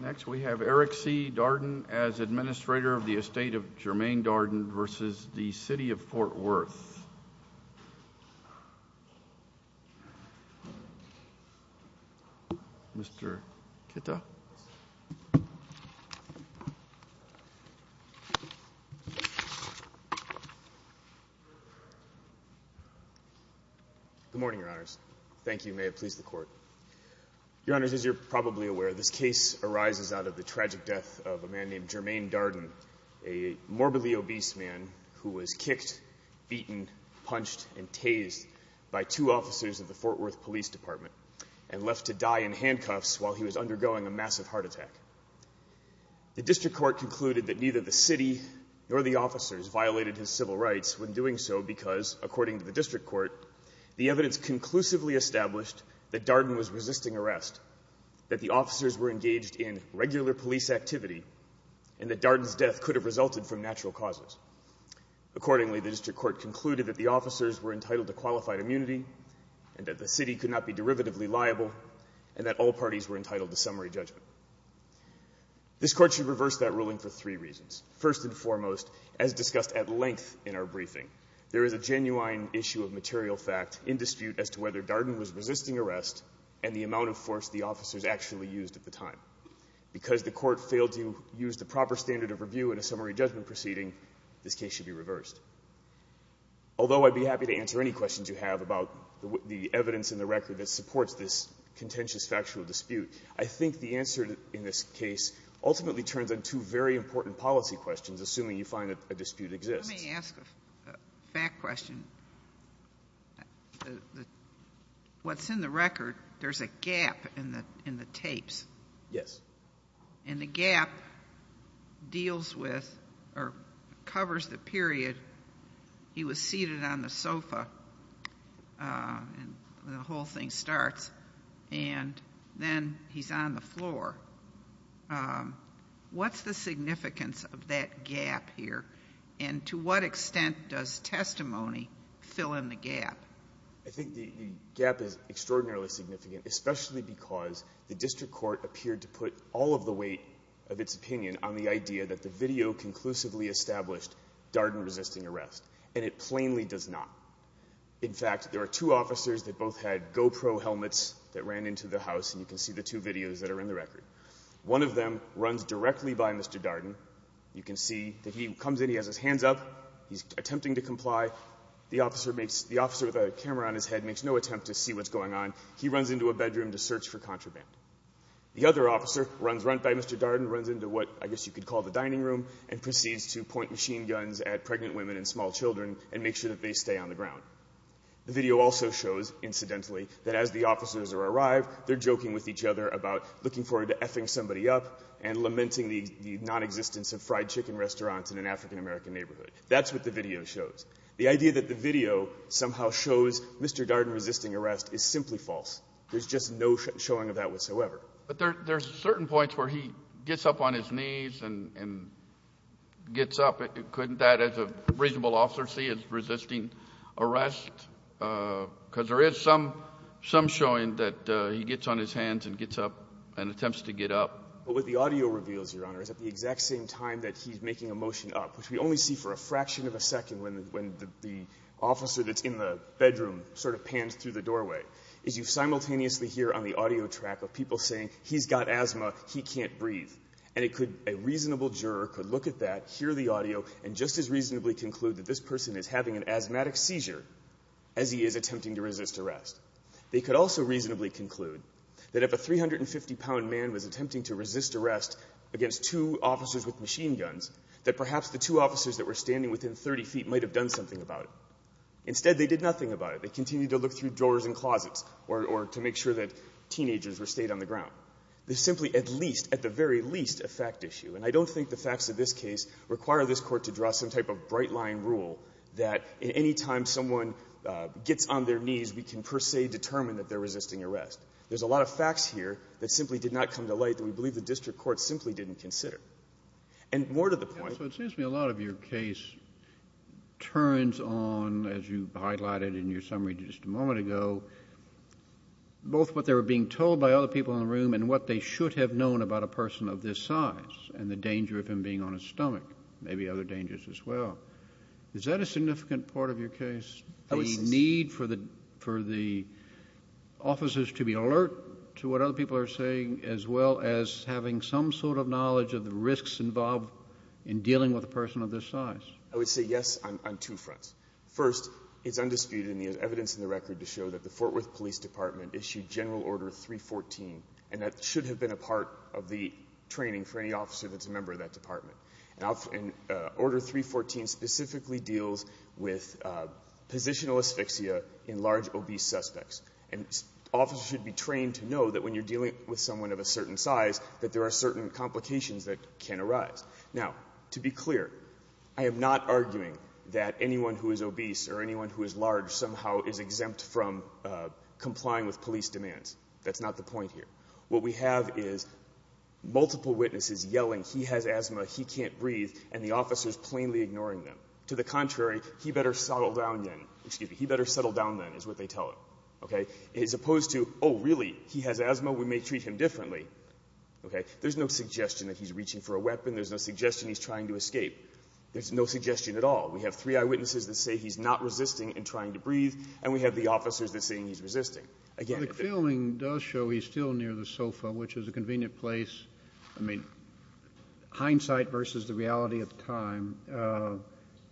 Next we have Eric C. Rader of the estate of Jermaine Darden versus the city of Fort Worth. Mr. Kita. Good morning, Your Honors. Thank you. May it please the Court. Your Honors, as you're probably aware, this case arises out of the tragic death of a man named Jermaine Darden, a morbidly obese man who was kicked, beaten, punched, and tased by two officers of the Fort Worth Police Department and left to die in handcuffs while he was undergoing a massive heart attack. The District Court concluded that neither the city nor the officers violated his civil rights when doing so because, according to the District Court, the evidence conclusively established that Darden was resisting arrest, that the officers were engaged in regular police activity, and that Darden's death could have resulted from natural causes. Accordingly, the District Court concluded that the officers were entitled to qualified immunity and that the city could not be derivatively liable and that all parties were entitled to summary judgment. This Court should reverse that ruling for three reasons. First and foremost, as discussed at length in our briefing, there is a genuine issue of material fact in dispute as to whether Darden was resisting arrest and the amount of force the officers actually used at the time. Because the Court failed to use the proper standard of review in a summary judgment proceeding, this case should be reversed. Although I'd be happy to answer any questions you have about the evidence in the record that supports this contentious factual dispute, I think the answer in this case ultimately turns on two very important policy questions, assuming you find that a dispute exists. Let me ask a fact question. What's in the record, there's a gap in the tapes. Yes. And the gap deals with or covers the period he was seated on the sofa when the whole thing starts and then he's on the floor. What's the significance of that gap here, and to what extent does testimony fill in the gap? I think the gap is extraordinarily significant, especially because the district court appeared to put all of the weight of its opinion on the idea that the video conclusively established Darden resisting arrest, and it plainly does not. In fact, there are two officers that both had GoPro helmets that ran into the house, and you can see the two videos that are in the record. One of them runs directly by Mr. Darden. You can see that he comes in, he has his hands up, he's attempting to comply. The officer makes the officer with a camera on his head makes no attempt to see what's going on. He runs into a bedroom to search for contraband. The other officer runs right by Mr. Darden, runs into what I guess you could call the dining room, and proceeds to point machine guns at pregnant women and small children and make sure that they stay on the ground. The video also shows, incidentally, that as the officers arrive, they're joking with each other about looking forward to F-ing somebody up and lamenting the nonexistence of fried chicken restaurants in an African-American neighborhood. That's what the video shows. The idea that the video somehow shows Mr. Darden resisting arrest is simply false. There's just no showing of that whatsoever. But there's certain points where he gets up on his knees and gets up. Couldn't that, as a reasonable officer, see as resisting arrest? Because there is some showing that he gets on his hands and gets up and attempts to get up. But what the audio reveals, Your Honor, is at the exact same time that he's making a motion up, which we only see for a fraction of a second when the officer that's in the bedroom sort of pans through the doorway, is you simultaneously hear on the audio track of people saying, he's got asthma, he can't breathe. And a reasonable juror could look at that, hear the audio, and just as reasonably conclude that this person is having an asthmatic seizure as he is attempting to resist arrest. They could also reasonably conclude that if a 350-pound man was attempting to resist arrest against two officers with machine guns, that perhaps the two officers that were standing within 30 feet might have done something about it. Instead, they did nothing about it. They continued to look through doors and closets or to make sure that teenagers were stayed on the ground. There's simply at least, at the very least, a fact issue. And I don't think the facts of this case require this Court to draw some type of bright-line rule that at any time someone gets on their knees, we can per se determine that they're resisting arrest. There's a lot of facts here that simply did not come to light that we believe the district court simply didn't consider. And more to the point. So it seems to me a lot of your case turns on, as you highlighted in your summary just a moment ago, both what they were being told by other people in the room and what they should have known about a person of this size and the danger of him being on his stomach. Maybe other dangers as well. Is that a significant part of your case, the need for the officers to be alert to what other people are saying as well as having some sort of knowledge of the risks involved in dealing with a person of this size? I would say yes on two fronts. First, it's undisputed in the evidence in the record to show that the Fort Worth Police Department issued General Order 314, and that should have been a part of the training for any officer that's a member of that department. And Order 314 specifically deals with positional asphyxia in large obese suspects. And officers should be trained to know that when you're dealing with someone of a certain size, that there are certain complications that can arise. Now, to be clear, I am not arguing that anyone who is obese or anyone who is large somehow is exempt from complying with police demands. That's not the point here. What we have is multiple witnesses yelling, he has asthma, he can't breathe, and the officers plainly ignoring them. To the contrary, he better settle down then, is what they tell him. As opposed to, oh really, he has asthma, we may treat him differently. There's no suggestion that he's reaching for a weapon. There's no suggestion he's trying to escape. There's no suggestion at all. We have three eyewitnesses that say he's not resisting and trying to breathe, and we have the officers that say he's resisting. Again, if he's not resisting. Kennedy. The filming does show he's still near the sofa, which is a convenient place. I mean, hindsight versus the reality of the time,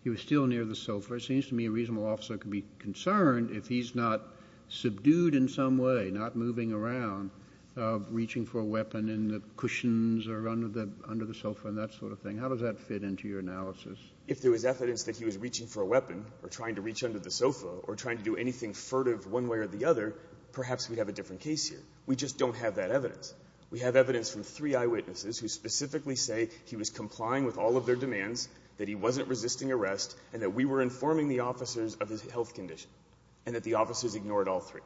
he was still near the sofa. It seems to me a reasonable officer could be concerned if he's not subdued in some way, not moving around, reaching for a weapon in the cushions or under the sofa and that sort of thing. How does that fit into your analysis? If there was evidence that he was reaching for a weapon or trying to reach under the sofa or trying to do anything furtive one way or the other, perhaps we'd have a different case here. We just don't have that evidence. We have evidence from three eyewitnesses who specifically say he was complying with all of their demands, that he wasn't resisting arrest, and that we were informing the officers of his health condition and that the officers ignored all three.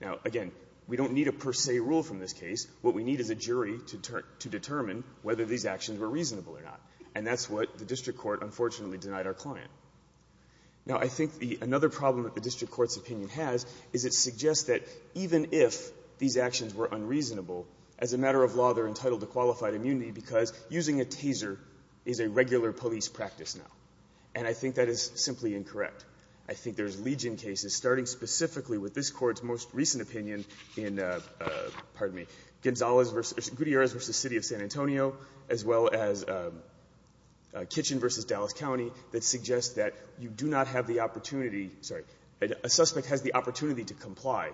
Now, again, we don't need a per se rule from this case. What we need is a jury to determine whether these actions were reasonable or not. And that's what the district court unfortunately denied our client. Now, I think another problem that the district court's opinion has is it suggests that even if these actions were unreasonable, as a matter of law, they're entitled to qualified immunity because using a taser is a regular police practice now. And I think that is simply incorrect. I think there's Legion cases, starting specifically with this Court's most recent opinion in, pardon me, Gutierrez v. City of San Antonio, as well as Kitchen v. Dallas County, that suggest that you do not have the opportunity, sorry, a suspect has the opportunity to comply,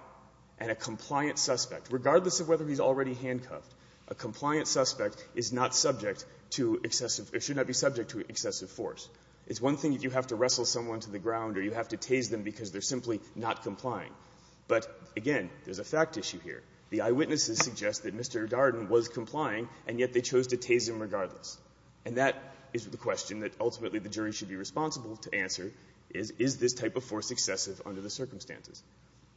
and a compliant suspect, regardless of whether he's already handcuffed, a compliant suspect is not subject to excessive or should not be subject to excessive force. It's one thing if you have to wrestle someone to the ground or you have to tase them because they're simply not complying. But, again, there's a fact issue here. The eyewitnesses suggest that Mr. Darden was complying, and yet they chose to tase him regardless. And that is the question that ultimately the jury should be responsible to answer is, is this type of force excessive under the circumstances?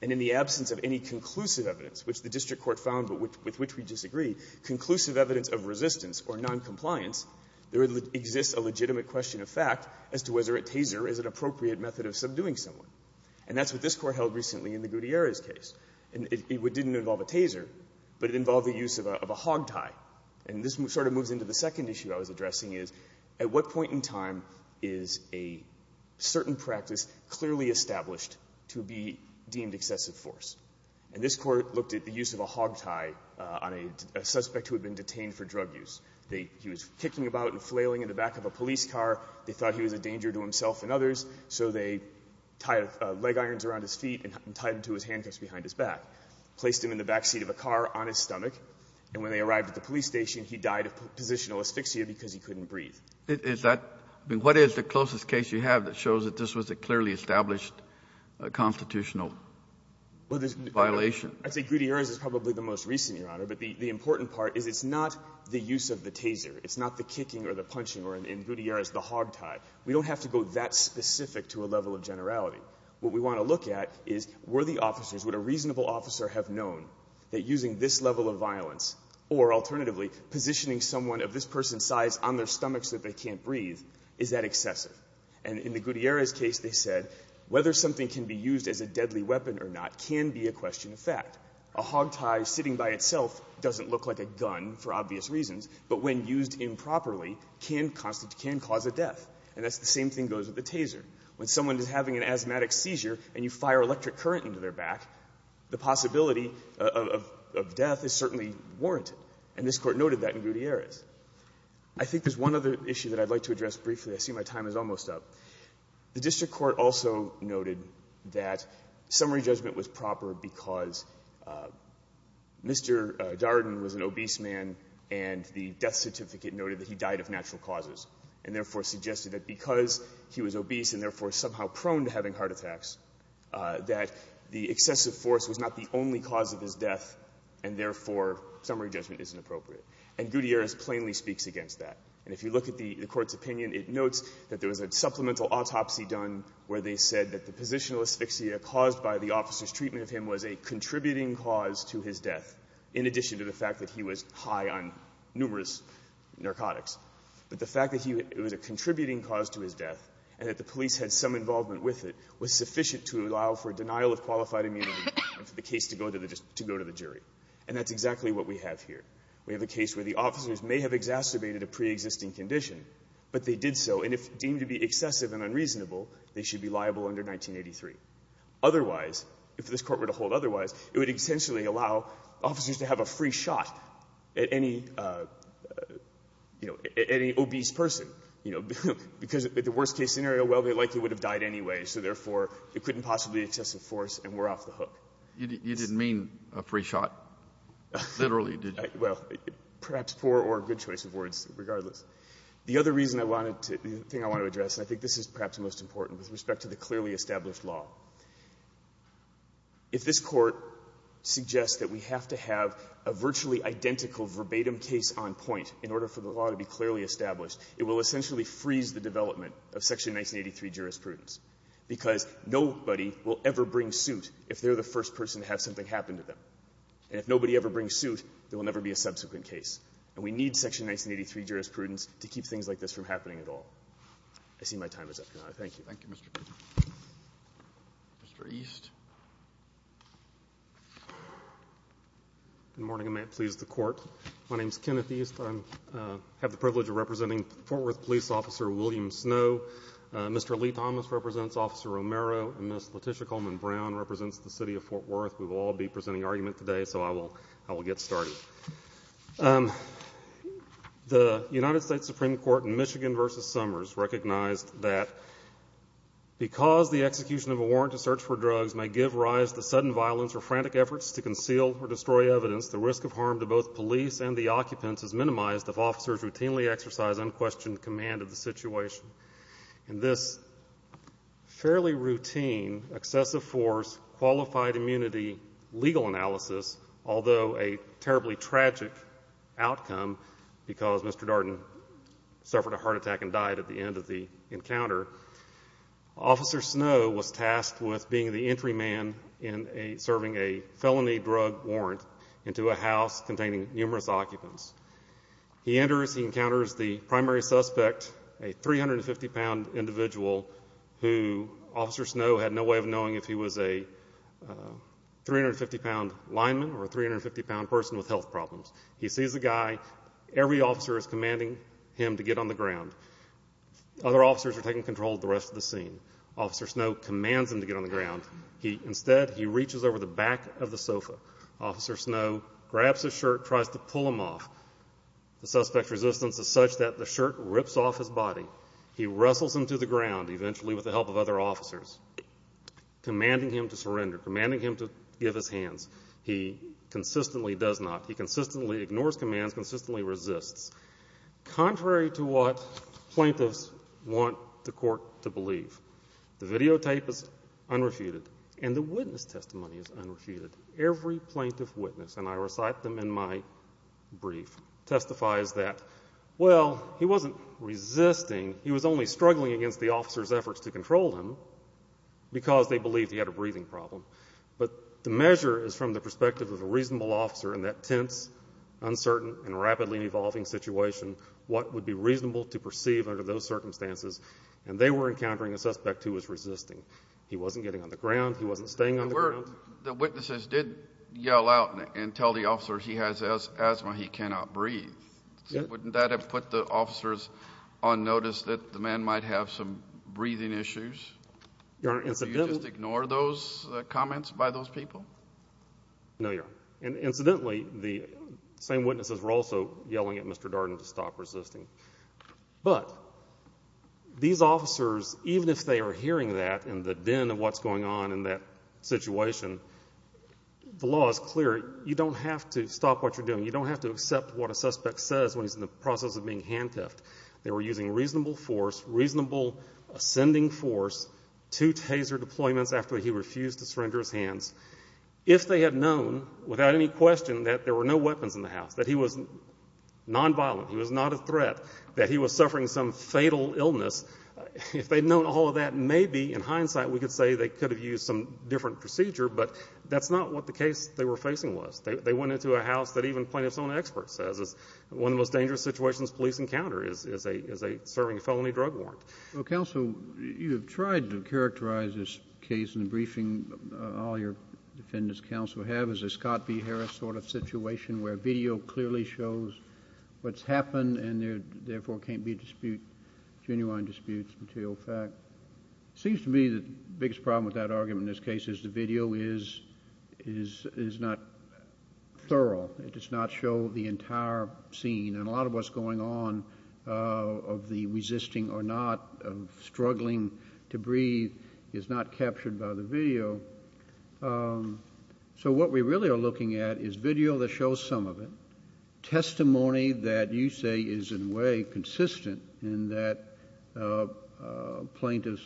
And in the absence of any conclusive evidence, which the district court found, but with which we disagree, conclusive evidence of resistance or noncompliance, there exists a legitimate question of fact as to whether a taser is an appropriate method of subduing someone. And that's what this Court held recently in the Gutierrez case. And it didn't involve a taser, but it involved the use of a hogtie. And this sort of moves into the second issue I was addressing is, at what point in time is a certain practice clearly established to be deemed excessive force? And this Court looked at the use of a hogtie on a suspect who had been detained for drug use. He was kicking about and flailing in the back of a police car. They thought he was a danger to himself and others, so they tied leg irons around his feet and tied them to his handcuffs behind his back, placed him in the backseat of a car on his stomach. And when they arrived at the police station, he died of positional asphyxia because he couldn't breathe. Kennedy, is that the closest case you have that shows that this was a clearly established constitutional violation? Well, I'd say Gutierrez is probably the most recent, Your Honor. But the important part is it's not the use of the taser. It's not the kicking or the punching, or in Gutierrez, the hogtie. We don't have to go that specific to a level of generality. What we want to look at is, were the officers, would a reasonable officer have known that using this level of violence or, alternatively, positioning someone of this person's size on their stomachs that they can't breathe, is that excessive? And in the Gutierrez case, they said, whether something can be used as a deadly weapon or not can be a question of fact. A hogtie sitting by itself doesn't look like a gun for obvious reasons, but when used improperly can cause a death. And that's the same thing goes with the taser. When someone is having an asthmatic seizure and you fire electric current into their back, the possibility of death is certainly warranted. And this Court noted that in Gutierrez. I think there's one other issue that I'd like to address briefly. I see my time is almost up. The district court also noted that summary judgment was proper because Mr. Darden was an obese man and the death certificate noted that he died of natural causes and therefore suggested that because he was obese and therefore somehow prone to having heart attacks, that the excessive force was not the only cause of his death and therefore summary judgment isn't appropriate. And Gutierrez plainly speaks against that. And if you look at the Court's opinion, it notes that there was a supplemental autopsy done where they said that the positional asphyxia caused by the officer's treatment of him was a contributing cause to his death, in addition to the fact that he was high on numerous narcotics. But the fact that he was a contributing cause to his death and that the police had some involvement with it was sufficient to allow for denial of qualified immunity and for the case to go to the jury. And that's exactly what we have here. We have a case where the officers may have exacerbated a preexisting condition, but they did so. And if deemed to be excessive and unreasonable, they should be liable under 1983. Otherwise, if this Court were to hold otherwise, it would essentially allow officers to have a free shot at any, you know, at any obese person, you know, because at the worst-case scenario, well, they likely would have died anyway, so therefore You didn't mean a free shot, literally, did you? Well, perhaps poor or good choice of words, regardless. The other reason I wanted to do, the thing I want to address, and I think this is perhaps the most important, with respect to the clearly established law, if this Court suggests that we have to have a virtually identical verbatim case on point in order for the law to be clearly established, it will essentially freeze the development of Section 1983 jurisprudence, because nobody will ever bring suit if they're the first person to have something happen to them. And if nobody ever brings suit, there will never be a subsequent case. And we need Section 1983 jurisprudence to keep things like this from happening at all. I see my time is up, Your Honor. Thank you. Thank you, Mr. Pritzker. Mr. East. Good morning, and may it please the Court. My name's Kenneth East. I have the privilege of representing Fort Worth Police Officer William Snow. Mr. Lee Thomas represents Officer Romero, and Ms. Letitia Coleman-Brown represents the City of Fort Worth. We will all be presenting argument today, so I will get started. The United States Supreme Court in Michigan v. Summers recognized that because the execution of a warrant to search for drugs may give rise to sudden violence or frantic efforts to conceal or destroy evidence, the risk of harm to both police and the occupants is minimized if officers routinely exercise unquestioned command of the situation. In this fairly routine, excessive force, qualified immunity legal analysis, although a terribly tragic outcome because Mr. Darden suffered a heart attack and died at the end of the encounter, Officer Snow was tasked with being the entry man in serving a felony drug warrant into a house containing numerous occupants. He enters, he encounters the primary suspect, a 350-pound individual who Officer Snow had no way of knowing if he was a 350-pound lineman or a 350-pound person with health problems. He sees the guy. Every officer is commanding him to get on the ground. Other officers are taking control of the rest of the scene. Officer Snow commands him to get on the ground. Instead, he reaches over the back of the sofa. Officer Snow grabs his shirt, tries to pull him off. The suspect's resistance is such that the shirt rips off his body. He wrestles him to the ground, eventually with the help of other officers, commanding him to surrender, commanding him to give his hands. He consistently does not. He consistently ignores commands, consistently resists. Contrary to what plaintiffs want the court to believe, the videotape is unrefuted and the witness testimony is unrefuted. Every plaintiff witness, and I recite them in my brief, testifies that, well, he wasn't resisting, he was only struggling against the officer's efforts to control him because they believed he had a breathing problem. But the measure is from the perspective of a reasonable officer in that tense, uncertain, and rapidly evolving situation, what would be reasonable to perceive under those circumstances, and they were encountering a suspect who was resisting. He wasn't getting on the ground. He wasn't staying on the ground. The witnesses did yell out and tell the officer he has asthma, he cannot breathe. Wouldn't that have put the officers on notice that the man might have some breathing issues? Do you just ignore those comments by those people? No, Your Honor. And incidentally, the same witnesses were also yelling at Mr. Darden to stop resisting. But these officers, even if they are hearing that in the din of what's going on in that situation, the law is clear. You don't have to stop what you're doing. You don't have to accept what a suspect says when he's in the process of being handcuffed. They were using reasonable force, reasonable ascending force, two taser deployments after he refused to surrender his hands. If they had known without any question that there were no weapons in the house, that he was nonviolent, he was not a threat, that he was suffering some fatal illness, if they'd known all of that, maybe in hindsight we could say they could have used some different procedure, but that's not what the case they were facing was. They went into a house that even plaintiff's own expert says is one of the most dangerous situations police encounter is a serving felony drug warrant. Well, counsel, you have tried to characterize this case in the briefing, all your defendants counsel have, as a Scott B. Harris sort of situation where video clearly shows what's happened and therefore can't be disputed, genuine disputes, material fact. Seems to me the biggest problem with that argument in this case is the video is not thorough, it does not show the entire scene. And a lot of what's going on of the resisting or not of struggling to breathe is not captured by the video. So what we really are looking at is video that shows some of it. Testimony that you say is in a way consistent in that plaintiff's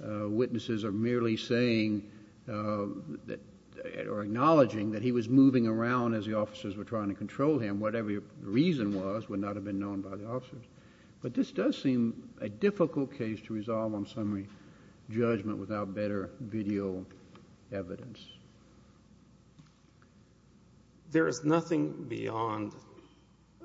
witnesses are merely saying or acknowledging that he was moving around as the officers were trying to control him. Whatever the reason was would not have been known by the officers. But this does seem a difficult case to resolve on summary judgment without better video evidence. There is nothing beyond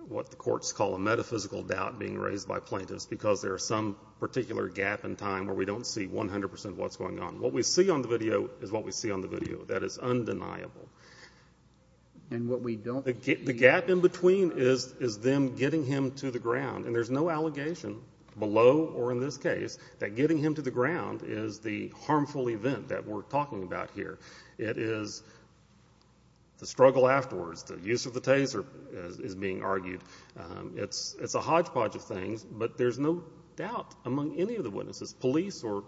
what the courts call a metaphysical doubt being raised by plaintiffs because there are some particular gap in time where we don't see 100% what's going on. What we see on the video is what we see on the video. That is undeniable. And what we don't- The gap in between is them getting him to the ground. And there's no allegation below or in this case, that getting him to the ground is the harmful event that we're talking about here. It is the struggle afterwards, the use of the taser is being argued. It's a hodgepodge of things, but there's no doubt among any of the witnesses, police or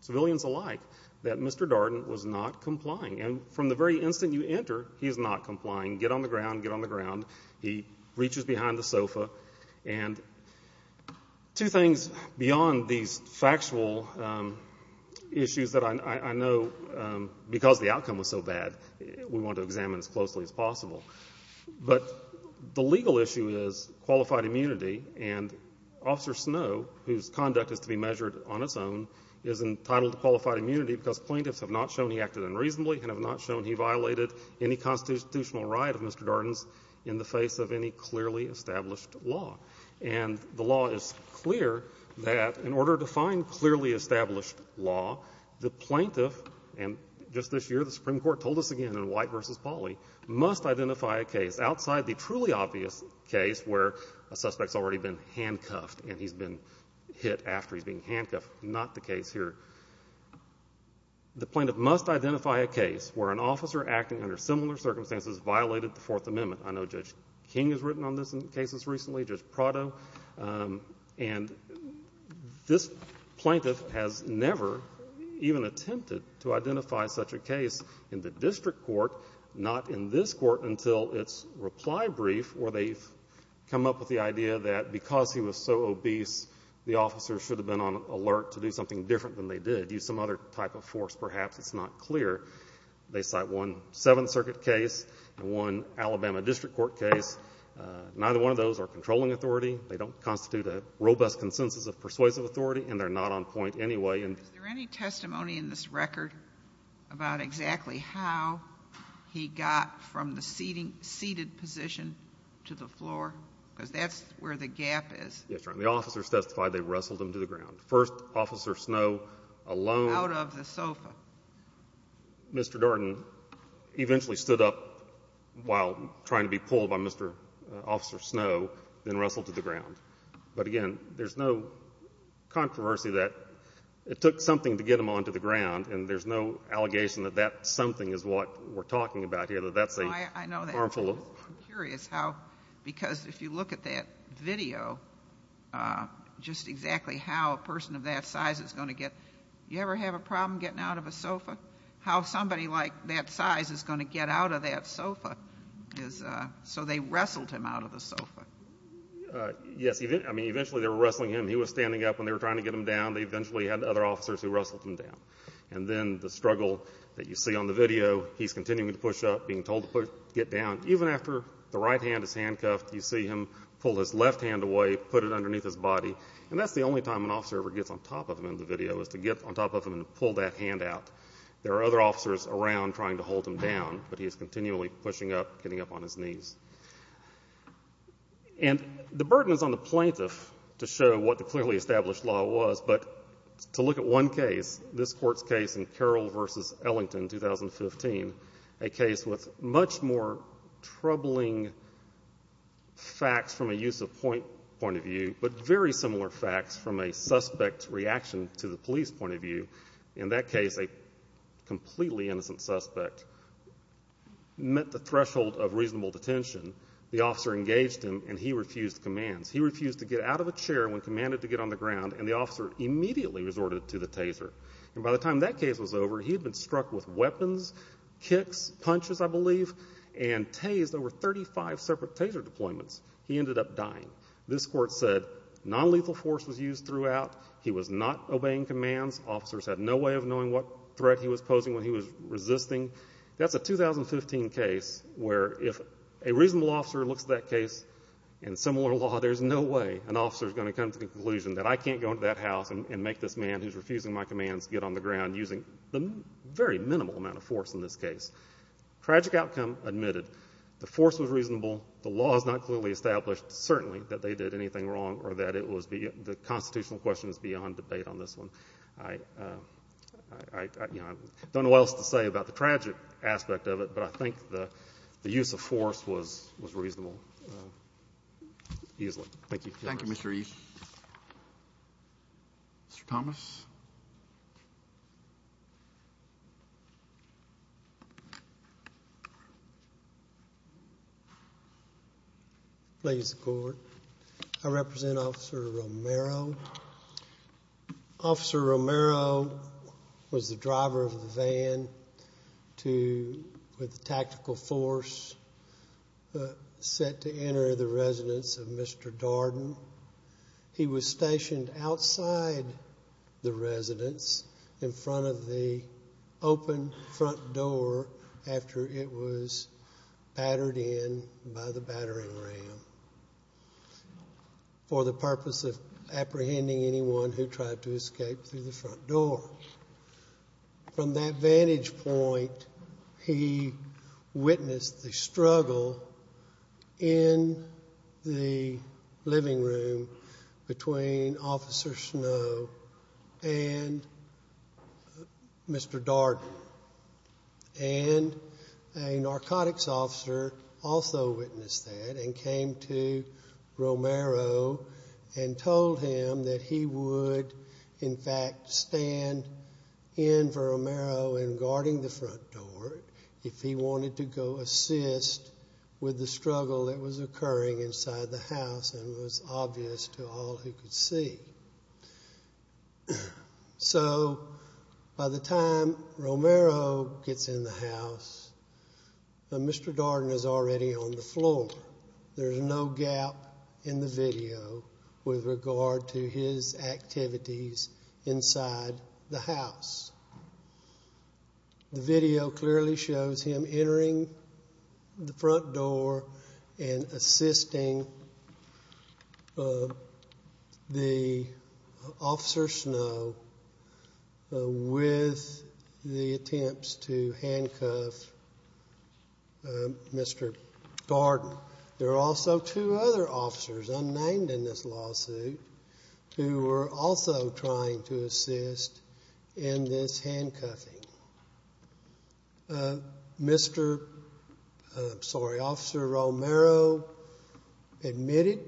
civilians alike, that Mr. Darden was not complying. And from the very instant you enter, he's not complying. Get on the ground, get on the ground. He reaches behind the sofa. And two things beyond these factual issues that I know, because the outcome was so bad, we want to examine as closely as possible. But the legal issue is qualified immunity. And Officer Snow, whose conduct is to be measured on its own, is entitled to qualified immunity because plaintiffs have not shown he acted unreasonably and have not shown he violated any constitutional right of Mr. Darden's in the face of any clearly established law. And the law is clear that in order to find clearly established law, the plaintiff, and just this year the Supreme Court told us again in White v. Pauley, must identify a case outside the truly obvious case where a suspect's already been handcuffed and he's been hit after he's been handcuffed, not the case here. The plaintiff must identify a case where an officer acting under similar circumstances violated the Fourth Amendment. I know Judge King has written on this in cases recently. Judge Prado. And this plaintiff has never even attempted to identify such a case in the district court, not in this court until its reply brief where they've come up with the idea that because he was so obese, the officer should have been on alert to do something different than they did, use some other type of force perhaps. It's not clear. They cite one Seventh Circuit case and one Alabama district court case. Neither one of those are controlling authority. They don't constitute a robust consensus of persuasive authority, and they're not on point anyway. Is there any testimony in this record about exactly how he got from the seated position to the floor? Because that's where the gap is. Yes, Your Honor. The officers testified they wrestled him to the ground. First, Officer Snow alone. Out of the sofa. Mr. Darden eventually stood up while trying to be pulled by Mr. Officer Snow, then wrestled to the ground. But again, there's no controversy that it took something to get him onto the ground, and there's no allegation that that something is what we're talking about here, that that's a harmful. I'm curious how, because if you look at that video, just exactly how a person of that size is going to get. You ever have a problem getting out of a sofa? How somebody like that size is going to get out of that sofa? So they wrestled him out of the sofa. Yes, I mean, eventually they were wrestling him. He was standing up when they were trying to get him down. They eventually had other officers who wrestled him down. And then the struggle that you see on the video, he's continuing to push up, being told to get down. Even after the right hand is handcuffed, you see him pull his left hand away, put it underneath his body. And that's the only time an officer ever gets on top of him in the video, is to get on top of him and pull that hand out. There are other officers around trying to hold him down, but he is continually pushing up, getting up on his knees. And the burden is on the plaintiff to show what the clearly established law was. But to look at one case, this court's case in Carroll v. Ellington, 2015, a case with much more troubling facts from a use of point of view, but very similar facts from a suspect's reaction to the police point of view. In that case, a completely innocent suspect met the threshold of reasonable detention. The officer engaged him, and he refused commands. He refused to get out of a chair when commanded to get on the ground, and the officer immediately resorted to the taser. And by the time that case was over, he had been struck with weapons, kicks, punches, I believe, and tased over 35 separate taser deployments. He ended up dying. This court said nonlethal force was used throughout. He was not obeying commands. Officers had no way of knowing what threat he was posing when he was resisting. That's a 2015 case where if a reasonable officer looks at that case, in similar law, there's no way an officer's going to come to the conclusion that I can't go into that house and make this man who's refusing my commands get on the ground using the very minimal amount of force in this case. Tragic outcome admitted. The force was reasonable. The law is not clearly established, certainly, that they did anything wrong or that the constitutional question is beyond debate on this one. I don't know what else to say about the tragic aspect of it, but I think the use of force was reasonable. Thank you. Thank you, Mr. East. Mr. Thomas. Ladies and court, I represent Officer Romero. Officer Romero was the driver of the van with the tactical force set to enter the residence of Mr. Darden. He was stationed outside the residence in front of the open front door after it was battered in by the battering ram. For the purpose of apprehending anyone who tried to escape through the front door. From that vantage point, he witnessed the struggle in the living room between Officer Snow and Mr. Darden. And a narcotics officer also witnessed that and came to Romero and told him that he would, in fact, stand in for Romero in guarding the front door if he wanted to go assist with the struggle that was occurring inside the house and was obvious to all who could see. So, by the time Romero gets in the house, Mr. Darden is already on the floor. There's no gap in the video with regard to his activities inside the house. The video clearly shows him entering the front door and assisting Officer Snow with the attempts to handcuff Mr. Darden. There are also two other officers unnamed in this lawsuit who were also trying to assist in this handcuffing. Officer Romero admitted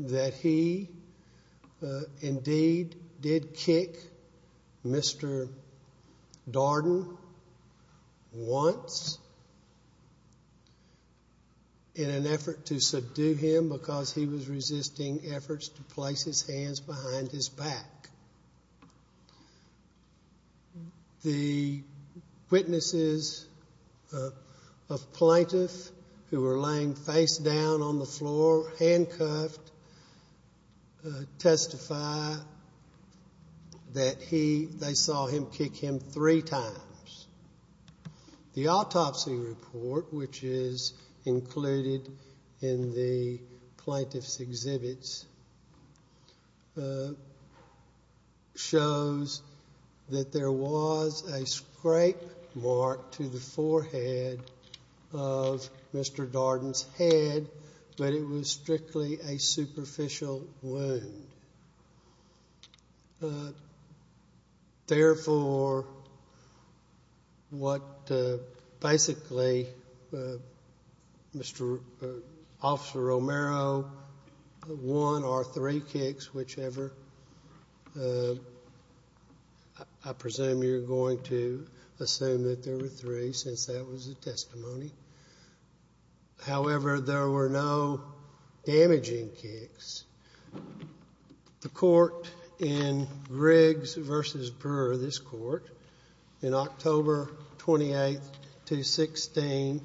that he indeed did kick Mr. Darden once in an effort to subdue him because he was resisting efforts to place his hands behind his back. The witnesses of plaintiff who were laying face down on the floor, handcuffed, testify that they saw him kick him three times. The autopsy report, which is included in the plaintiff's exhibits, shows that there was a scrape mark to the forehead of Mr. Darden's head, but it was strictly a superficial wound. Therefore, what basically, Officer Romero won are three kicks, whichever. I presume you're going to assume that there were three since that was the testimony. However, there were no damaging kicks. The court in Riggs v. Brewer, this court, in October 28, 2016,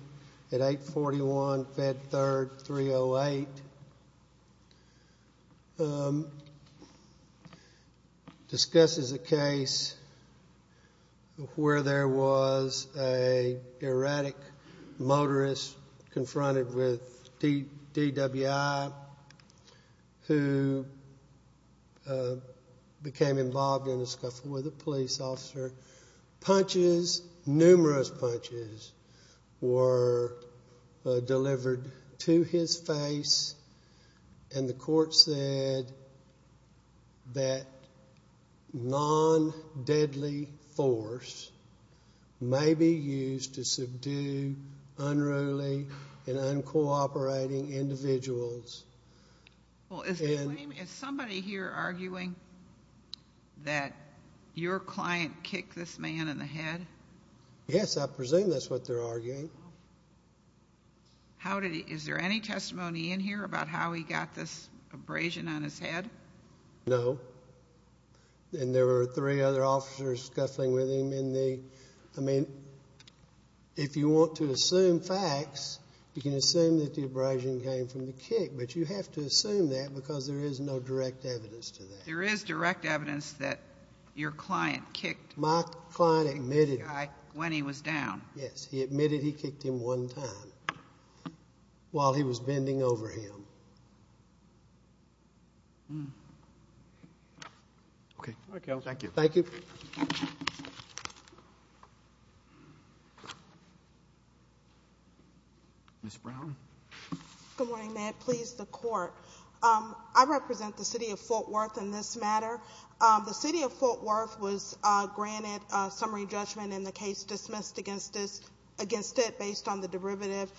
at 841 Fed Third 308, discusses a case where there was an erratic motorist confronted with DWI who became involved in a scuffle with a police officer. Punches, numerous punches were delivered to his face, and the court said that non-deadly force may be used to subdue unruly and uncooperating individuals. Is somebody here arguing that your client kicked this man in the head? Yes, I presume that's what they're arguing. Is there any testimony in here about how he got this abrasion on his head? No, and there were three other officers scuffling with him. I mean, if you want to assume facts, you can assume that the abrasion came from the kick, but you have to assume that because there is no direct evidence to that. There is direct evidence that your client kicked the guy when he was down. Yes. He admitted he kicked him one time while he was bending over him. Okay. Thank you. Thank you. Ms. Brown. Good morning. May it please the Court. I represent the city of Fort Worth in this matter. The city of Fort Worth was granted summary judgment in the case dismissed against it based on the derivative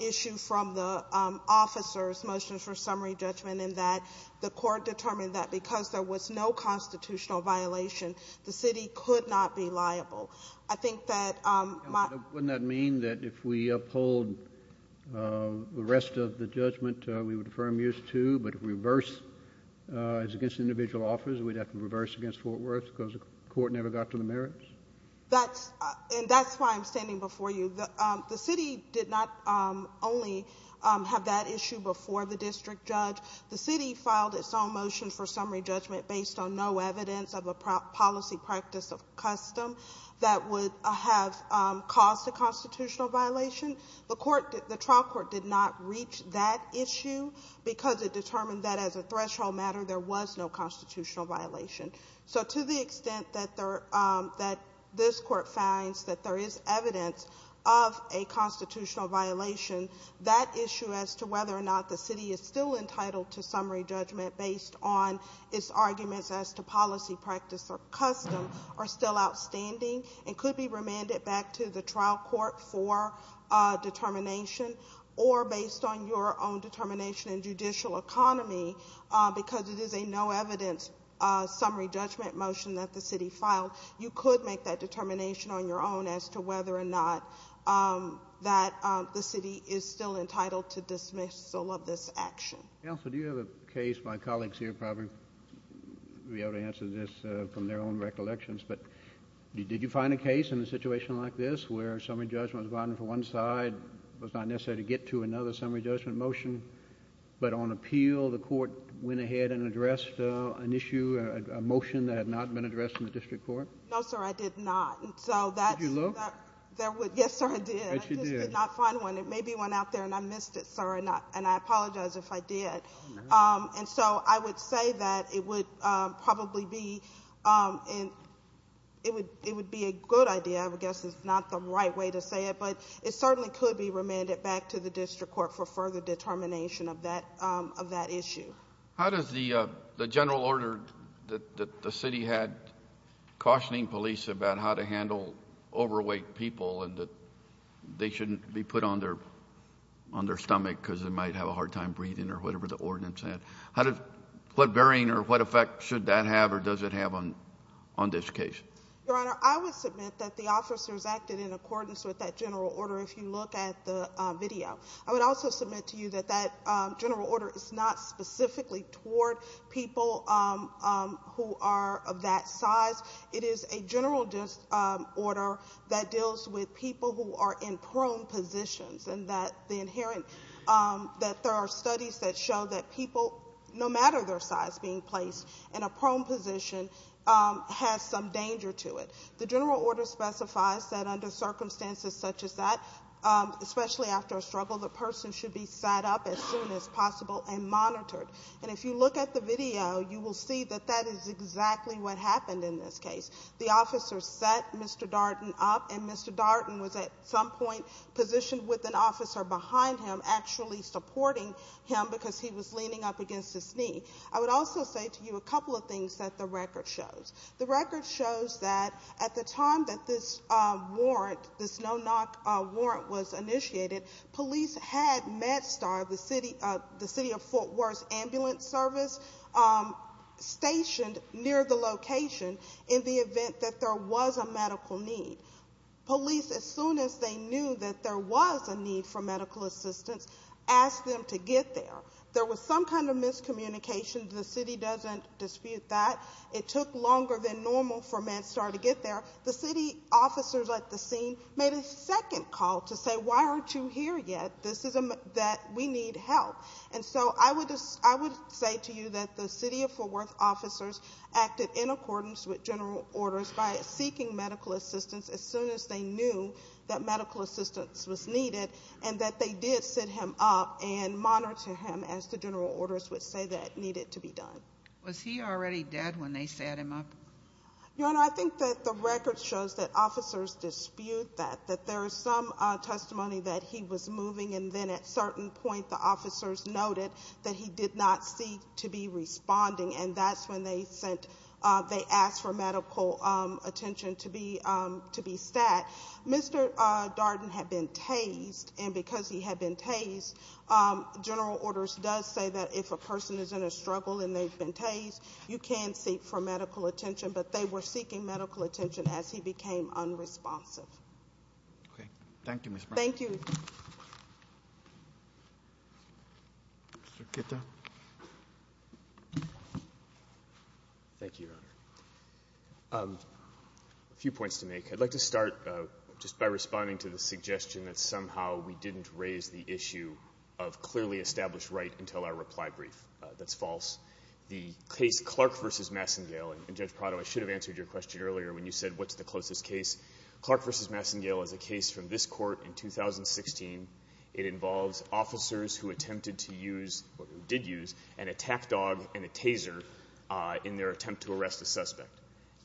issue from the officer's motions for summary judgment, and that the Court determined that because there was no constitutional violation, the city could not be liable. I think that my— Wouldn't that mean that if we uphold the rest of the judgment, we would defer amuse to, but if reverse is against individual offers, we'd have to reverse against Fort Worth because the Court never got to the merits? And that's why I'm standing before you. The city did not only have that issue before the district judge. The city filed its own motion for summary judgment based on no evidence of a policy practice of custom that would have caused a constitutional violation. The trial court did not reach that issue because it determined that, as a threshold matter, there was no constitutional violation. So to the extent that this Court finds that there is evidence of a constitutional violation, that issue as to whether or not the city is still entitled to summary judgment based on its arguments as to policy practice or custom are still outstanding and could be remanded back to the trial court for determination or based on your own determination in judicial economy because it is a no evidence summary judgment motion that the city filed, you could make that determination on your own as to whether or not that the city is still entitled to dismissal of this action. Counsel, do you have a case—my colleagues here probably will be able to answer this from their own recollections, but did you find a case in a situation like this where summary judgment was bonded for one side, was not necessary to get to another summary judgment motion, but on appeal the Court went ahead and addressed an issue, a motion that had not been addressed in the district court? No, sir, I did not. Did you look? Yes, sir, I did. But you did. I just did not find one. There may be one out there, and I missed it, sir, and I apologize if I did. Oh, no. And so I would say that it would probably be a good idea. I guess it's not the right way to say it, but it certainly could be remanded back to the district court for further determination of that issue. How does the general order that the city had cautioning police about how to handle overweight people and that they shouldn't be put on their stomach because they might have a hard time breathing or whatever the ordinance said, what bearing or what effect should that have or does it have on this case? Your Honor, I would submit that the officers acted in accordance with that general order if you look at the video. I would also submit to you that that general order is not specifically toward people who are of that size. It is a general order that deals with people who are in prone positions and that there are studies that show that people, no matter their size being placed in a prone position, has some danger to it. The general order specifies that under circumstances such as that, especially after a struggle, the person should be sat up as soon as possible and monitored. And if you look at the video, you will see that that is exactly what happened in this case. The officer sat Mr. Darden up, and Mr. Darden was at some point positioned with an officer behind him, actually supporting him because he was leaning up against his knee. I would also say to you a couple of things that the record shows. The record shows that at the time that this warrant, this no-knock warrant was initiated, police had MedStar, the city of Fort Worth's ambulance service, stationed near the location in the event that there was a medical need. Police, as soon as they knew that there was a need for medical assistance, asked them to get there. There was some kind of miscommunication. The city doesn't dispute that. It took longer than normal for MedStar to get there. The city officers at the scene made a second call to say, why aren't you here yet? We need help. And so I would say to you that the city of Fort Worth officers acted in accordance with general orders by seeking medical assistance as soon as they knew that medical assistance was needed and that they did sit him up and monitor him as the general orders would say that needed to be done. Was he already dead when they sat him up? Your Honor, I think that the record shows that officers dispute that, that there is some testimony that he was moving, and then at a certain point the officers noted that he did not seek to be responding, and that's when they asked for medical attention to be stat. Mr. Darden had been tased, and because he had been tased, general orders does say that if a person is in a struggle and they've been tased, you can seek for medical attention, but they were seeking medical attention as he became unresponsive. Okay. Thank you, Ms. Brown. Thank you. Mr. Kitta. Thank you, Your Honor. A few points to make. I'd like to start just by responding to the suggestion that somehow we didn't raise the issue of clearly established right until our reply brief. That's false. The case Clark v. Massengale, and Judge Prado, I should have answered your question earlier when you said what's the closest case. Clark v. Massengale is a case from this court in 2016. It involves officers who attempted to use, or did use, an attack dog and a taser in their attempt to arrest a suspect.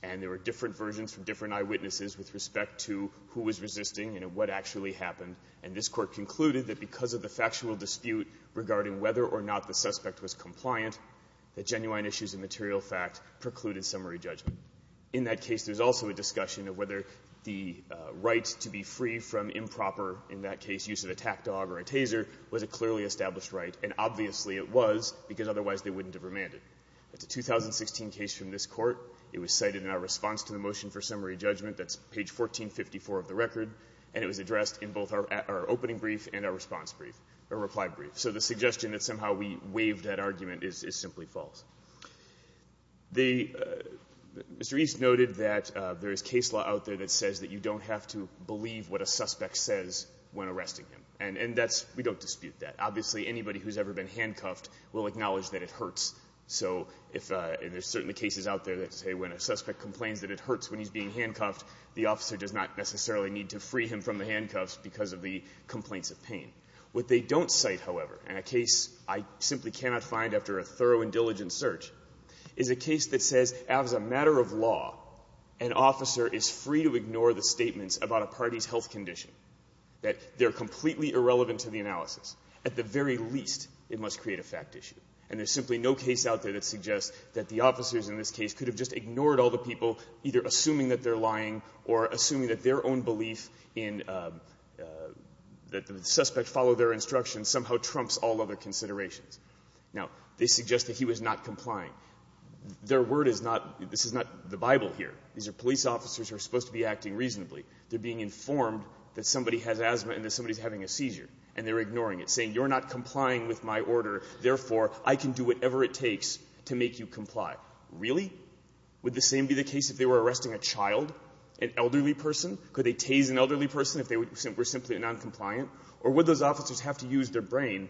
And there were different versions from different eyewitnesses with respect to who was resisting and what actually happened, and this Court concluded that because of the factual dispute regarding whether or not the suspect was compliant, that genuine issues of material fact precluded summary judgment. In that case, there's also a discussion of whether the right to be free from improper, in that case, use of an attack dog or a taser, was a clearly established right, and obviously it was, because otherwise they wouldn't have remanded. That's a 2016 case from this court. It was cited in our response to the motion for summary judgment. That's page 1454 of the record. And it was addressed in both our opening brief and our response brief, or reply brief. So the suggestion that somehow we waived that argument is simply false. Mr. East noted that there is case law out there that says that you don't have to believe what a suspect says when arresting him. And that's, we don't dispute that. Obviously, anybody who's ever been handcuffed will acknowledge that it hurts. So if there's certainly cases out there that say when a suspect complains that it hurts when he's being handcuffed, the officer does not necessarily need to free him from the handcuffs because of the complaints of pain. What they don't cite, however, in a case I simply cannot find after a thorough and diligent search, is a case that says, as a matter of law, an officer is free to ignore the statements about a party's health condition, that they're completely irrelevant to the analysis. At the very least, it must create a fact issue. And there's simply no case out there that suggests that the officers in this case could have just ignored all the people, either assuming that they're lying or assuming that their own belief in that the suspect followed their instructions somehow trumps all other considerations. Now, they suggest that he was not complying. Their word is not, this is not the Bible here. These are police officers who are supposed to be acting reasonably. They're being informed that somebody has asthma and that somebody's having a seizure, and they're ignoring it, saying, you're not complying with my order, therefore I can do whatever it takes to make you comply. Really? Would the same be the case if they were arresting a child, an elderly person? Could they tase an elderly person if they were simply noncompliant? Or would those officers have to use their brain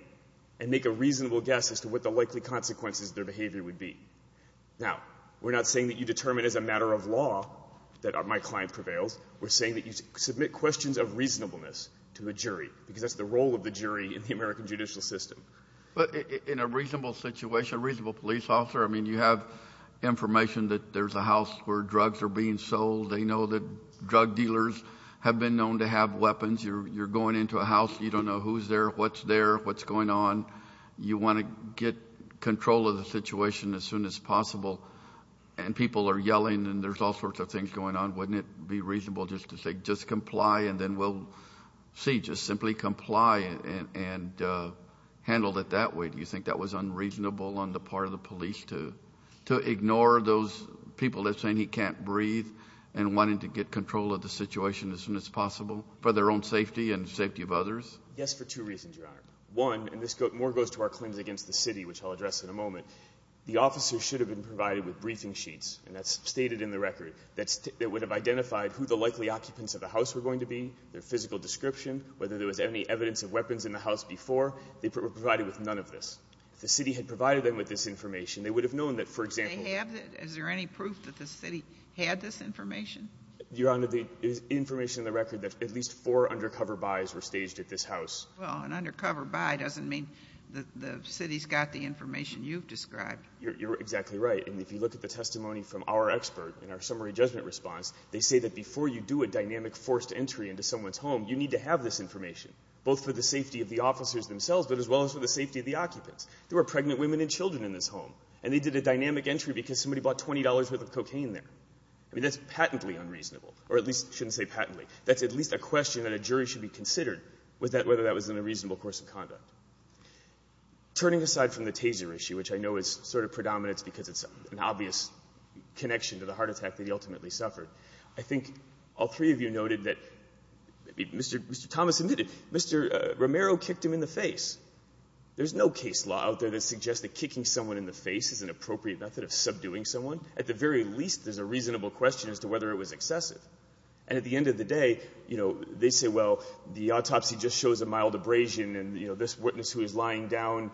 and make a reasonable guess as to what the likely consequences of their behavior would be? Now, we're not saying that you determine as a matter of law that my client prevails. We're saying that you submit questions of reasonableness to a jury, because that's the role of the jury in the American judicial system. But in a reasonable situation, a reasonable police officer, I mean, you have information that there's a house where drugs are being sold. They know that drug dealers have been known to have weapons. You're going into a house. You don't know who's there, what's there, what's going on. You want to get control of the situation as soon as possible. And people are yelling, and there's all sorts of things going on. Wouldn't it be reasonable just to say just comply and then we'll see, just simply comply and handle it that way? Do you think that was unreasonable on the part of the police to ignore those people that are saying he can't breathe and wanting to get control of the situation as soon as possible for their own safety and the safety of others? Yes, for two reasons, Your Honor. One, and more goes to our claims against the city, which I'll address in a moment. The officers should have been provided with briefing sheets, and that's stated in the record, that would have identified who the likely occupants of the house were going to be, their physical description, whether there was any evidence of weapons in the house before. They were provided with none of this. If the city had provided them with this information, they would have known that, for example ---- They have? Is there any proof that the city had this information? Your Honor, the information in the record that at least four undercover buys were staged at this house. Well, an undercover buy doesn't mean the city's got the information you've described. You're exactly right. And if you look at the testimony from our expert in our summary judgment response, they say that before you do a dynamic forced entry into someone's home, you need to have this information, both for the safety of the officers themselves, but as well as for the safety of the occupants. There were pregnant women and children in this home, and they did a dynamic entry because somebody bought $20 worth of cocaine there. I mean, that's patently unreasonable, or at least shouldn't say patently. That's at least a question that a jury should be considered, whether that was in a reasonable course of conduct. Turning aside from the taser issue, which I know is sort of predominant because it's an obvious connection to the heart attack that he ultimately suffered, I think all three of you noted that Mr. Thomas admitted Mr. Romero kicked him in the face. There's no case law out there that suggests that kicking someone in the face is an appropriate method of subduing someone. At the very least, there's a reasonable question as to whether it was excessive. And at the end of the day, you know, they say, well, the autopsy just shows a mild abrasion and this witness who is lying down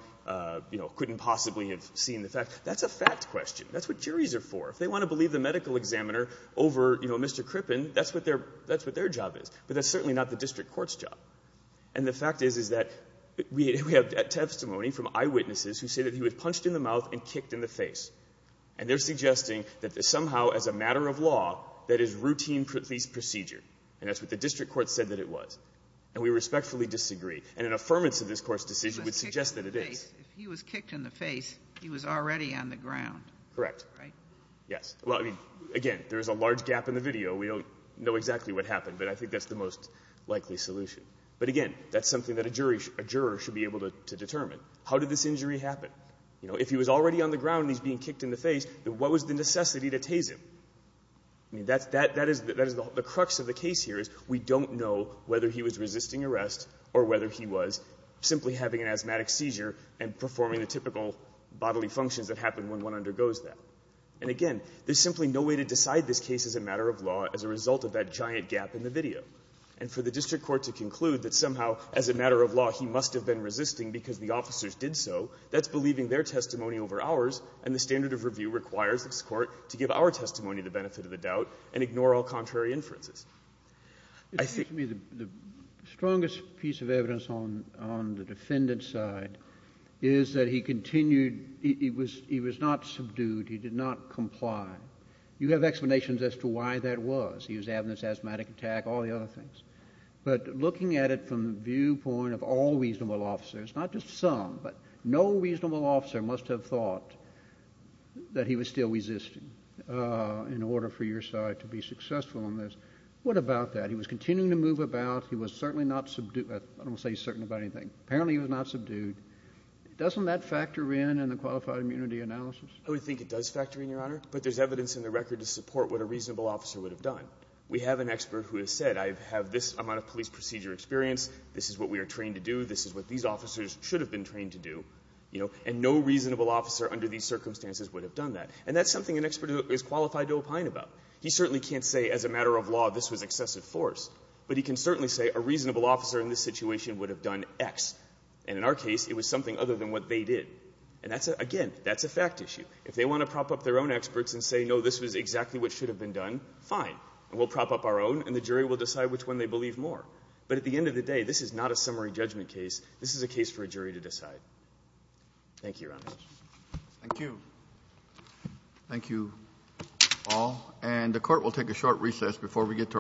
couldn't possibly have seen the fact. That's a fact question. That's what juries are for. If they want to believe the medical examiner over Mr. Crippen, that's what their job is. But that's certainly not the district court's job. And the fact is that we have testimony from eyewitnesses who say that he was punched in the mouth and kicked in the face. And they're suggesting that somehow as a matter of law, that is routine police procedure. And that's what the district court said that it was. And we respectfully disagree. And an affirmance of this Court's decision would suggest that it is. If he was kicked in the face, he was already on the ground. Correct. Right? Yes. Well, I mean, again, there is a large gap in the video. We don't know exactly what happened, but I think that's the most likely solution. But again, that's something that a jury should be able to determine. How did this injury happen? You know, if he was already on the ground and he's being kicked in the face, then what was the necessity to tase him? I mean, that is the crux of the case here is we don't know whether he was resisting arrest or whether he was simply having an asthmatic seizure and performing the typical bodily functions that happen when one undergoes that. And again, there's simply no way to decide this case as a matter of law as a result of that giant gap in the video. And for the district court to conclude that somehow as a matter of law he must have been resisting because the officers did so, that's believing their testimony over ours, and the standard of review requires this Court to give our testimony the benefit of the doubt and ignore all contrary inferences. I think the strongest piece of evidence on the defendant's side is that he continued he was not subdued, he did not comply. You have explanations as to why that was. He was having this asthmatic attack, all the other things. But looking at it from the viewpoint of all reasonable officers, not just some, but no reasonable officer must have thought that he was still resisting in order for your defense to be successful in this. What about that? He was continuing to move about. He was certainly not subdued. I don't say he's certain about anything. Apparently he was not subdued. Doesn't that factor in in the qualified immunity analysis? I would think it does factor in, Your Honor, but there's evidence in the record to support what a reasonable officer would have done. We have an expert who has said I have this amount of police procedure experience, this is what we are trained to do, this is what these officers should have been trained to do, and no reasonable officer under these circumstances would have done that. And that's something an expert is qualified to opine about. He certainly can't say as a matter of law this was excessive force, but he can certainly say a reasonable officer in this situation would have done X. And in our case, it was something other than what they did. And that's, again, that's a fact issue. If they want to prop up their own experts and say, no, this was exactly what should have been done, fine, and we'll prop up our own and the jury will decide which one they believe more. But at the end of the day, this is not a summary judgment case. This is a case for a jury to decide. Thank you, Your Honor. Thank you. Thank you all. And the Court will take a short recess before we get to our final hearing.